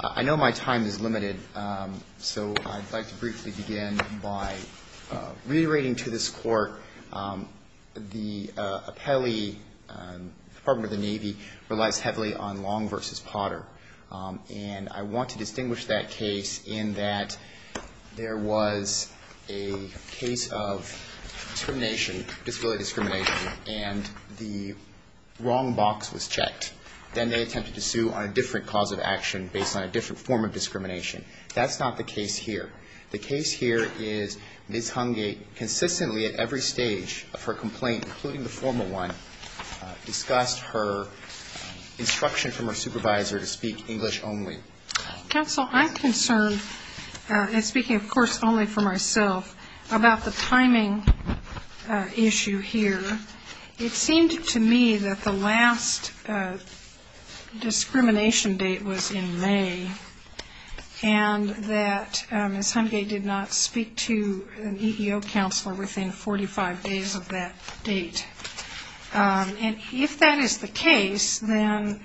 I know my time is limited, so I'd like to briefly begin by reiterating to this court, the appellee, the Department of the Navy, relies heavily on Long v. Potter, and I want to distinguish that case in that there was a case of discrimination, disability discrimination, and the wrong box was checked. Then they attempted to sue on a different cause of action based on a different form of discrimination. That's not the case here. The case here is Ms. Hungate consistently at every stage of her complaint, including the formal one, discussed her instruction from her supervisor to speak English only. Counsel, I'm concerned, and speaking of course only for myself, about the timing issue here. It seemed to me that the last discrimination date was in May and that Ms. Hungate did not speak to an EEO counselor within 45 days of that date. And if that is the case, then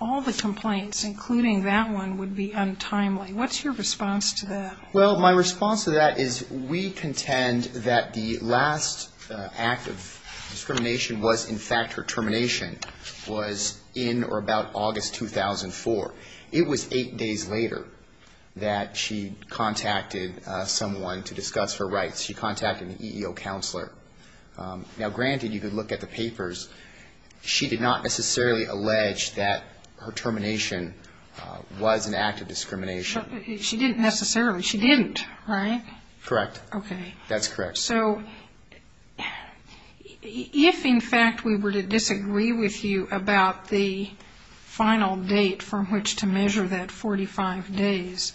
all the complaints, including that one, would be untimely. What's your response to that? Well, my response to that is we contend that the last act of discrimination was, in fact, her termination, was in or about August 2004. It was eight days later that she contacted someone to discuss her rights. She contacted an EEO counselor. Now, granted, you could look at the papers. She did not necessarily allege that her termination was an act of discrimination. She didn't necessarily. She didn't, right? Correct. Okay. That's correct. So if, in fact, we were to disagree with you about the final date from which to measure that 45 days,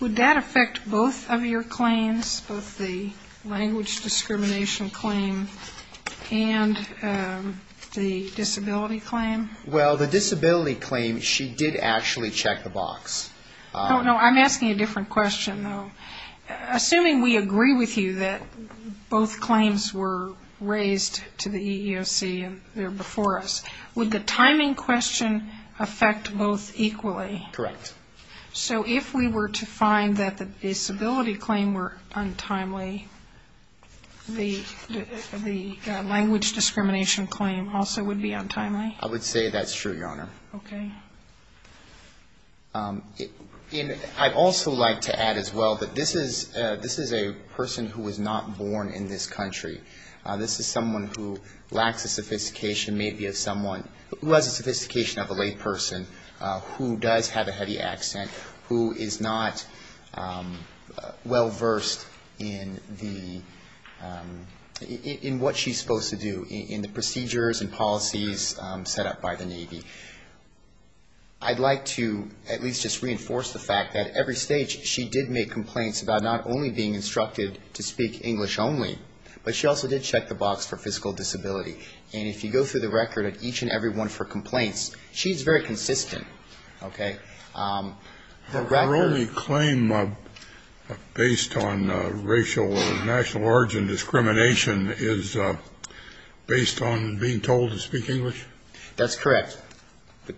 would that affect both of your claims, both the language discrimination claim and the disability claim? Well, the disability claim, she did actually check the box. Oh, no. I'm asking a different question, though. Assuming we agree with you that both claims were raised to the EEOC and they're before us, would the timing question affect both equally? Correct. So if we were to find that the disability claim were untimely, the language discrimination claim also would be untimely? I would say that's true, Your Honor. Okay. And I'd also like to add as well that this is a person who was not born in this country. This is someone who lacks a sophistication, maybe of someone who has a sophistication of a layperson, who does have a heavy accent, who is not well versed in what she's supposed to do, in the procedures and policies set up by the Navy. I'd like to at least just reinforce the fact that at every stage she did make complaints about not only being instructed to speak English only, but she also did check the box for physical disability. And if you go through the record of each and every one of her complaints, she's very consistent. Okay. Her only claim based on racial or national origin discrimination is based on being told to speak English? That's correct.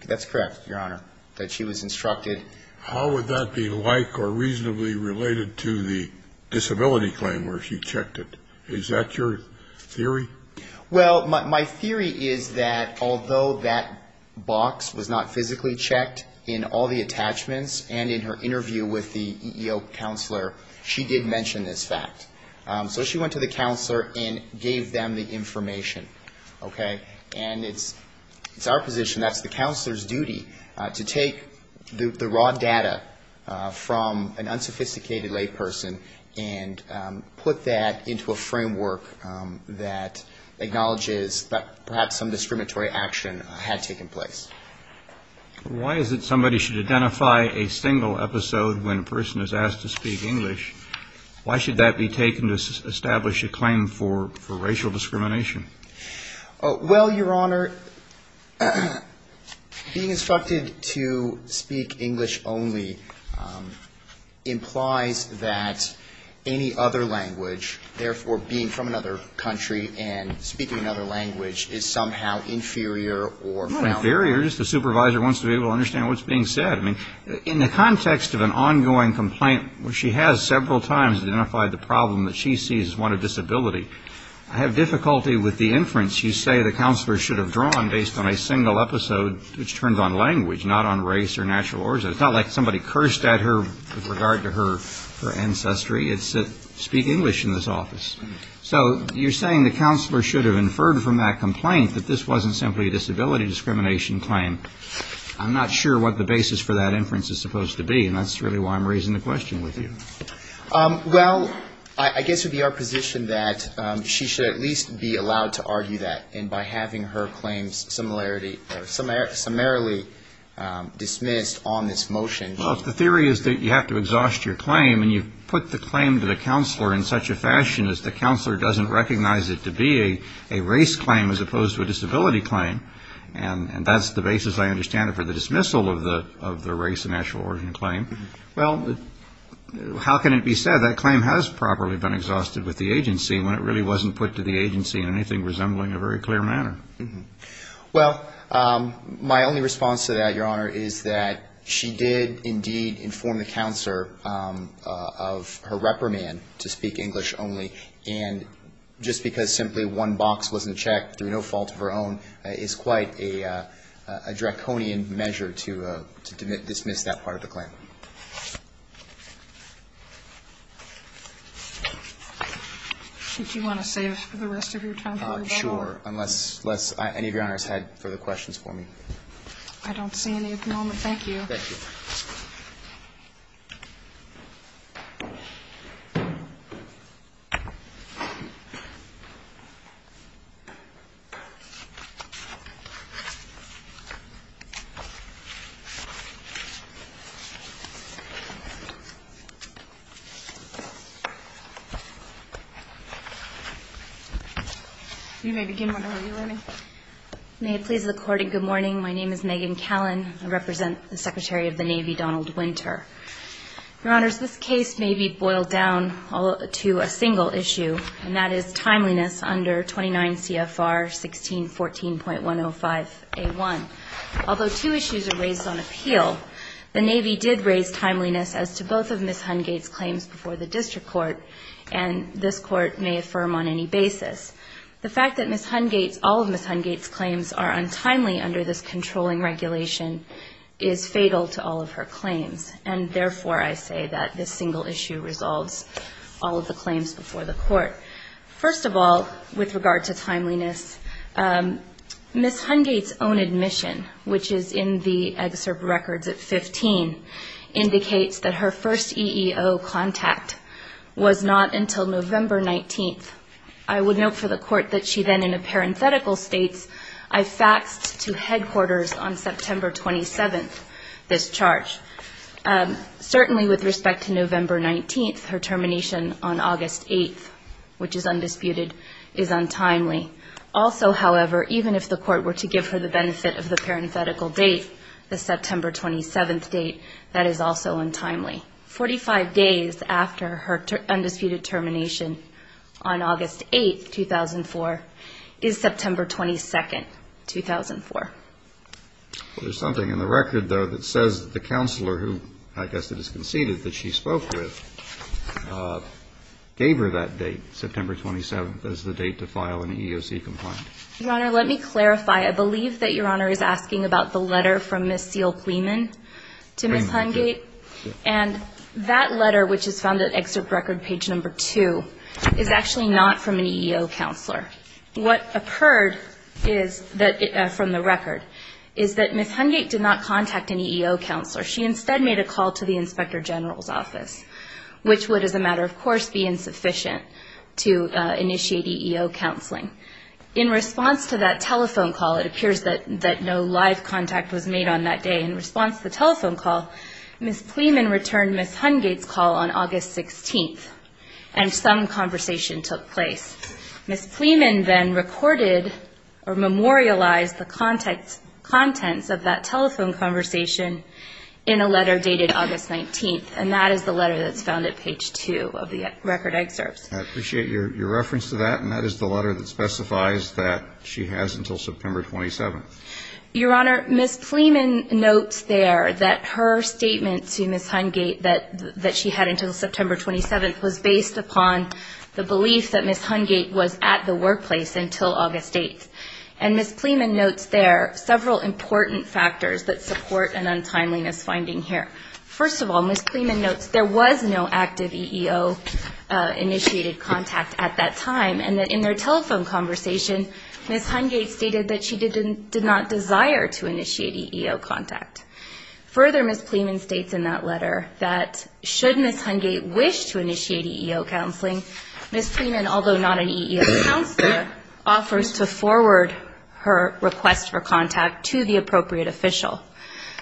That's correct, Your Honor, that she was instructed. How would that be like or reasonably related to the disability claim where she checked it? Is that your theory? Well, my theory is that although that box was not physically checked in all the attachments and in her interview with the EEO counselor, she did mention this fact. So she went to the counselor and gave them the information, okay? And it's our position, that's the counselor's duty, to take the raw data from an unsophisticated layperson and put that into a framework that acknowledges that perhaps some discriminatory action had taken place. Why is it somebody should identify a single episode when a person is asked to speak English? Why should that be taken to establish a claim for racial discrimination? Well, Your Honor, being instructed to speak English only implies that any other language, therefore being from another country and speaking another language, is somehow inferior or found? Not inferior. Just the supervisor wants to be able to understand what's being said. I mean, in the context of an ongoing complaint where she has several times identified the problem that she sees as one of disability, I have difficulty with the inference you say the counselor should have drawn based on a single episode, which turned on language, not on race or natural origin. It's not like somebody cursed at her with regard to her ancestry. It's speak English in this office. So you're saying the counselor should have inferred from that complaint that this wasn't simply a disability discrimination claim. I'm not sure what the basis for that inference is supposed to be, and that's really why I'm raising the question with you. Well, I guess it would be our position that she should at least be allowed to argue that, and by having her claims summarily dismissed on this motion. Well, if the theory is that you have to exhaust your claim and you put the claim to the counselor in such a fashion as the counselor doesn't recognize it to be a race claim as opposed to a disability claim, and that's the basis I understand it for the dismissal of the race and natural origin claim. Well, how can it be said that claim has properly been exhausted with the agency when it really wasn't put to the agency in anything resembling a very clear manner? Well, my only response to that, Your Honor, is that she did indeed inform the counselor of her reprimand to speak English only, and just because simply one box wasn't checked through no fault of her own is quite a draconian measure to dismiss that part of the claim. Do you want to save for the rest of your time? Sure, unless any of Your Honors had further questions for me. I don't see any at the moment. Thank you. Thank you. You may begin, Your Honor. May it please the Court in good morning. My name is Megan Callan. I represent the Secretary of the Navy, Donald Winter. Your Honors, this case may be boiled down to a single issue, and that is timeliness under 29 CFR 1614.105A1. Although two issues are raised on appeal, the Navy did raise timeliness as to both of Ms. Hungate's claims before the district court, and this Court may affirm on any basis. The fact that Ms. Hungate's, all of Ms. Hungate's claims are untimely under this controlling regulation is fatal to all of her claims, and therefore I say that this single issue resolves all of the claims before the Court. First of all, with regard to timeliness, Ms. Hungate's own admission, which is in the excerpt records at 15, indicates that her first EEO contact was not until November 19th. I would note for the Court that she then in a parenthetical states, I faxed to headquarters on September 27th this charge. Certainly with respect to November 19th, her termination on August 8th, which is undisputed, is untimely. Also, however, even if the Court were to give her the benefit of the parenthetical date, the September 27th date, that is also untimely. Forty-five days after her undisputed termination on August 8th, 2004, is September 22nd, 2004. There's something in the record, though, that says that the counselor who, I guess it is conceded, that she spoke with gave her that date, September 27th, as the date to file an EEOC complaint. Your Honor, let me clarify. I believe that Your Honor is asking about the letter from Ms. Seal-Clemen to Ms. Hungate. And that letter, which is found at excerpt record page number two, is actually not from an EEO counselor. What occurred is that, from the record, is that Ms. Hungate did not contact an EEO counselor. She instead made a call to the Inspector General's office, which would, as a matter of course, be insufficient to initiate EEO counseling. In response to that telephone call, it appears that no live contact was made on that day. In response to the telephone call, Ms. Clemen returned Ms. Hungate's call on August 16th, and some conversation took place. Ms. Clemen then recorded or memorialized the contents of that telephone conversation in a letter dated August 19th. And that is the letter that's found at page two of the record excerpts. I appreciate your reference to that, and that is the letter that specifies that she has until September 27th. Your Honor, Ms. Clemen notes there that her statement to Ms. Hungate that she had until September 27th was based upon the belief that Ms. Hungate was at the workplace until August 8th. And Ms. Clemen notes there several important factors that support an untimeliness finding here. First of all, Ms. Clemen notes there was no active EEO-initiated contact at that time, and that in their telephone conversation, Ms. Hungate stated that she did not desire to initiate EEO contact. Further, Ms. Clemen states in that letter that should Ms. Hungate wish to initiate EEO counseling, Ms. Clemen, although not an EEO counselor, offers to forward her request for contact to the appropriate official.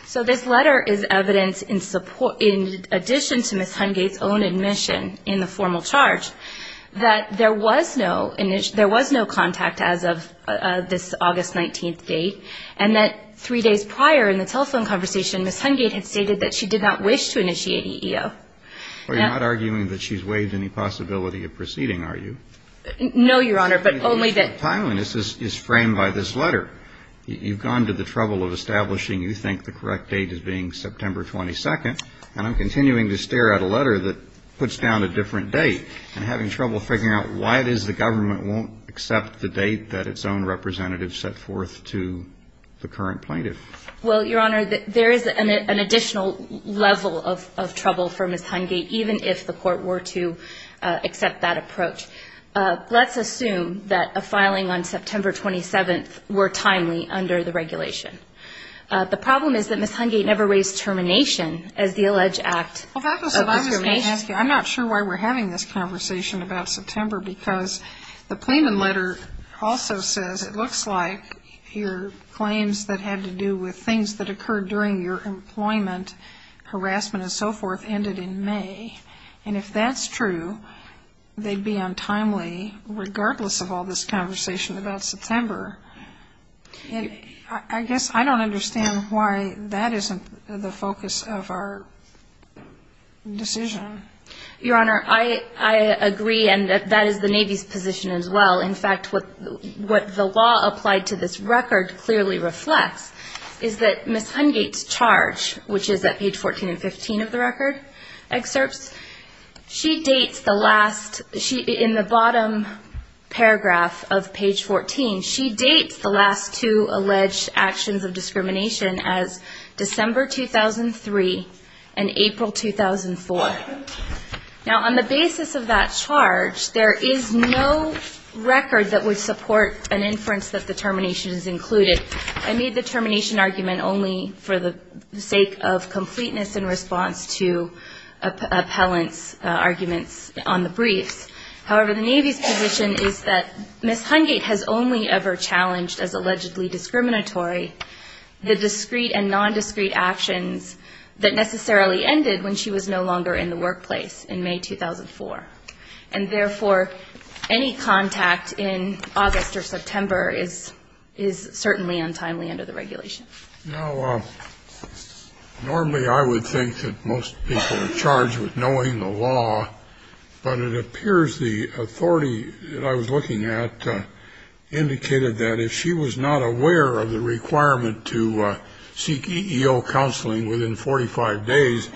So this letter is evidence in addition to Ms. Hungate's own admission in the formal charge that there was no contact as of this August 19th date, and that three days prior in the telephone conversation, Ms. Hungate had stated that she did not wish to initiate EEO. Well, you're not arguing that she's waived any possibility of proceeding, are you? No, Your Honor, but only that the issue of timeliness is framed by this letter. You've gone to the trouble of establishing you think the correct date is being September 22nd, and I'm continuing to stare at a letter that puts down a different date and having trouble figuring out why it is the government won't accept the date that its own representative set forth to the current plaintiff. Well, Your Honor, there is an additional level of trouble for Ms. Hungate, even if the Court were to accept that approach. Let's assume that a filing on September 27th were timely under the regulation. The problem is that Ms. Hungate never raised termination as the alleged act of occupation. I'm not sure why we're having this conversation about September because the plaintiff's letter also says it looks like your claims that had to do with things that occurred during your employment, harassment and so forth, ended in May. And if that's true, they'd be untimely regardless of all this conversation about September. I guess I don't understand why that isn't the focus of our decision. Your Honor, I agree, and that is the Navy's position as well. In fact, what the law applied to this record clearly reflects is that Ms. Hungate's charge, which is at page 14 and 15 of the record excerpts, in the bottom paragraph of page 14, she dates the last two alleged actions of discrimination as December 2003 and April 2004. Now, on the basis of that charge, there is no record that would support an inference that the termination is included. I made the termination argument only for the sake of completeness in response to appellant's arguments on the briefs. However, the Navy's position is that Ms. Hungate has only ever challenged as allegedly discriminatory the discrete and nondiscrete actions that necessarily ended when she was no longer in the workplace in May 2004. And therefore, any contact in August or September is certainly untimely under the regulation. Now, normally I would think that most people are charged with knowing the law, but it appears the authority that I was looking at indicated that if she was not aware of the requirement to seek EEO counseling within 45 days,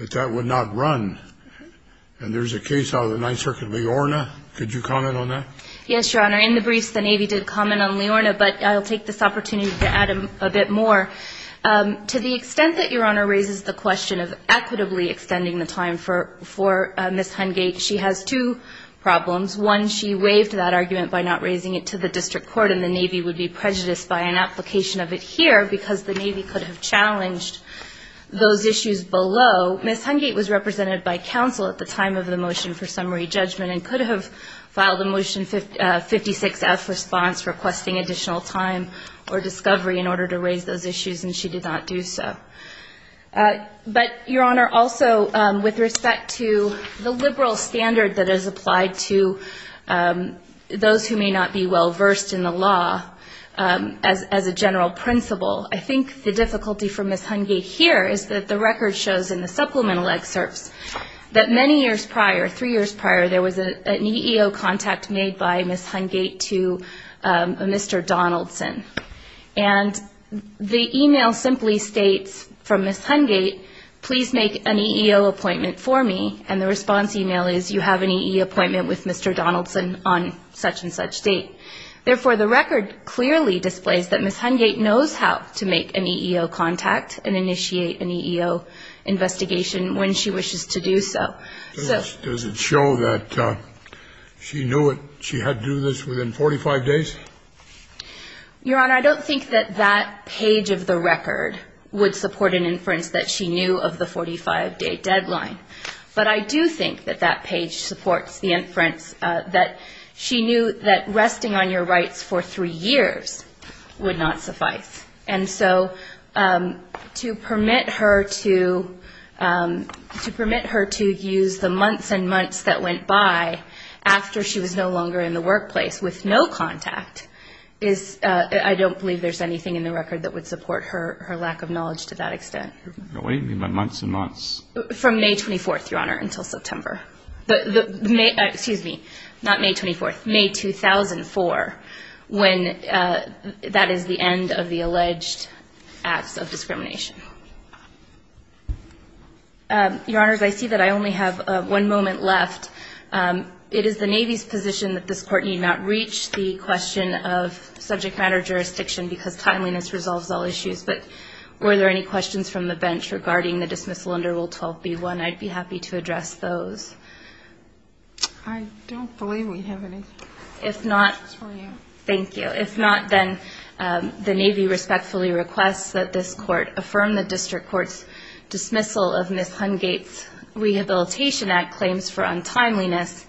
that that would not run. And there's a case out of the Ninth Circuit, Leorna. Could you comment on that? Yes, Your Honor. In the briefs, the Navy did comment on Leorna, but I'll take this opportunity to add a bit more. To the extent that Your Honor raises the question of equitably extending the time for Ms. Hungate, she has two problems. One, she waived that argument by not raising it to the district court, and the Navy would be prejudiced by an application of it here because the Navy could have challenged those issues below. Ms. Hungate was represented by counsel at the time of the motion for summary judgment and could have filed a Motion 56F response requesting additional time or discovery in order to raise those issues, and she did not do so. But, Your Honor, also with respect to the liberal standard that is applied to those who may not be well versed in the law, as a general principle, I think the difficulty for Ms. Hungate here is that the record shows in the supplemental excerpts that many years prior, three years prior, there was an EEO contact made by Ms. Hungate to Mr. Donaldson. And the email simply states from Ms. Hungate, please make an EEO appointment for me, and the response email is, you have an EEO appointment with Mr. Donaldson on such and such date. Therefore, the record clearly displays that Ms. Hungate knows how to make an EEO contact and initiate an EEO investigation when she wishes to do so. Does it show that she knew she had to do this within 45 days? Your Honor, I don't think that that page of the record would support an inference that she knew of the 45-day deadline. But I do think that that page supports the inference that she knew that resting on your rights for three years would not suffice. And so to permit her to use the months and months that went by after she was no longer in the workplace with no contact is, I don't believe there's anything in the record that would support her lack of knowledge to that extent. What do you mean by months and months? From May 24th, Your Honor, until September. Excuse me, not May 24th, May 2004, when that is the end of the alleged acts of discrimination. Your Honors, I see that I only have one moment left. It is the Navy's position that this Court need not reach the question of subject matter jurisdiction because timeliness resolves all issues. But were there any questions from the bench regarding the dismissal under Rule 12b-1? I'd be happy to address those. I don't believe we have any. Thank you. If not, then the Navy respectfully requests that this Court affirm the District Court's dismissal of Ms. Hungate's Rehabilitation Act claims for untimeliness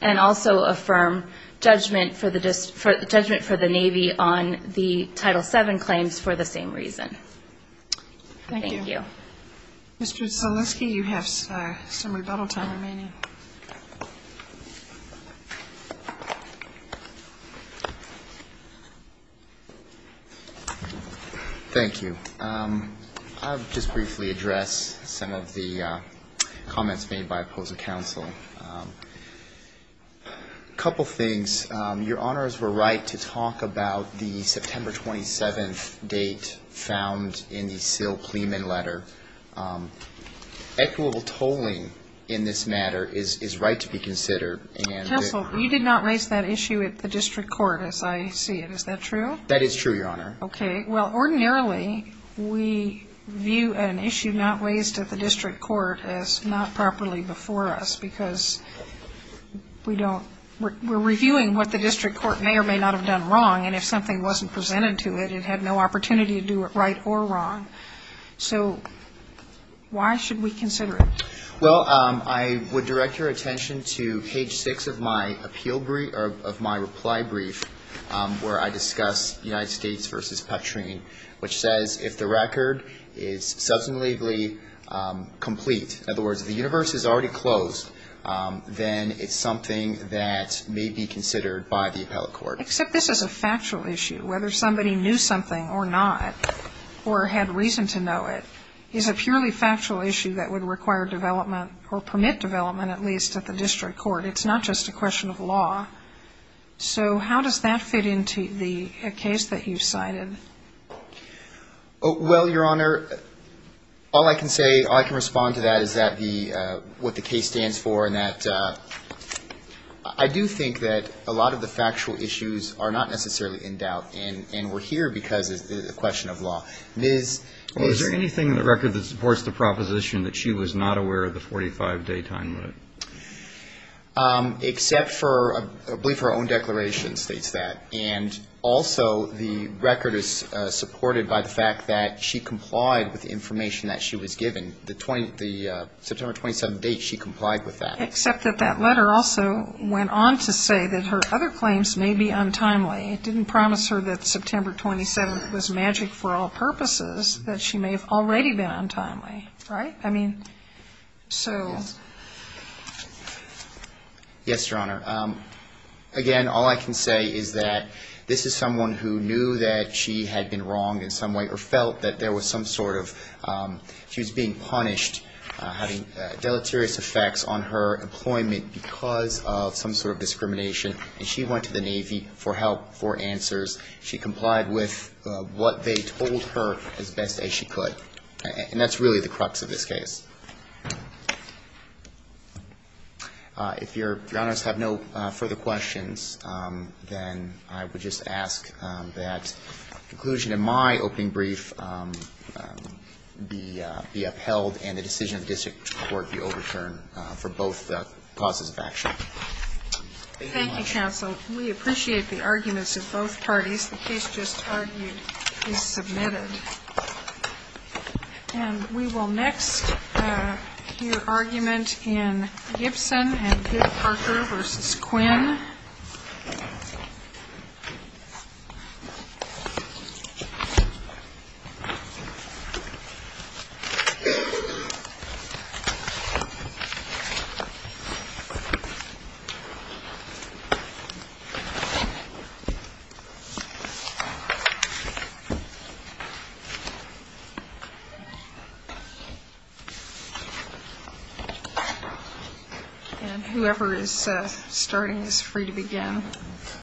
and also affirm judgment for the Navy on the Title VII claims for the same reason. Thank you. Mr. Zaleski, you have some rebuttal time remaining. Thank you. I'll just briefly address some of the comments made by opposing counsel. A couple things. Your Honors were right to talk about the September 27th date found in the Sill-Pleman letter. Equitable tolling in this matter is right to be considered. Counsel, you did not raise that issue at the District Court as I see it. Is that true? That is true, Your Honor. Okay. Well, ordinarily we view an issue not raised at the District Court as not properly before us, because we don't, we're reviewing what the District Court may or may not have done wrong, and if something wasn't presented to it, it had no opportunity to do it right or wrong. So why should we consider it? Well, I would direct your attention to page 6 of my appeal brief, or of my reply brief, where I discuss United States v. Patrine, which says, if the record is substantively complete, in other words, the universe is already closed, then it's something that may be considered by the appellate court. Except this is a factual issue. Whether somebody knew something or not, or had reason to know it, is a purely factual issue that would require development, or permit development at least, at the District Court. It's not just a question of law. So how does that fit into the case that you've cited? Well, Your Honor, all I can say, all I can respond to that is what the case stands for, and that I do think that a lot of the factual issues are not necessarily in doubt, and we're here because it's a question of law. Is there anything in the record that supports the proposition that she was not aware of the 45-day time limit? Except for, I believe her own declaration states that. And also the record is supported by the fact that she complied with the information that she was given. The September 27th date, she complied with that. Except that that letter also went on to say that her other claims may be untimely. It didn't promise her that September 27th was magic for all purposes, that she may have already been untimely, right? I mean, so. Yes, Your Honor. Again, all I can say is that this is someone who knew that she had been wrong in some way, or felt that there was some sort of, she was being punished, having deleterious effects on her employment because of some sort of discrimination, and so she was not being punished for answers. She complied with what they told her as best as she could. And that's really the crux of this case. If Your Honors have no further questions, then I would just ask that conclusion in my opening brief be upheld, and the decision of district court be overturned for both causes of action. Thank you, Your Honor. Thank you, Counsel. We appreciate the arguments of both parties. The case just argued is submitted. And we will next hear argument in Gibson and Good Parker v. Quinn. And whoever is starting is free to begin.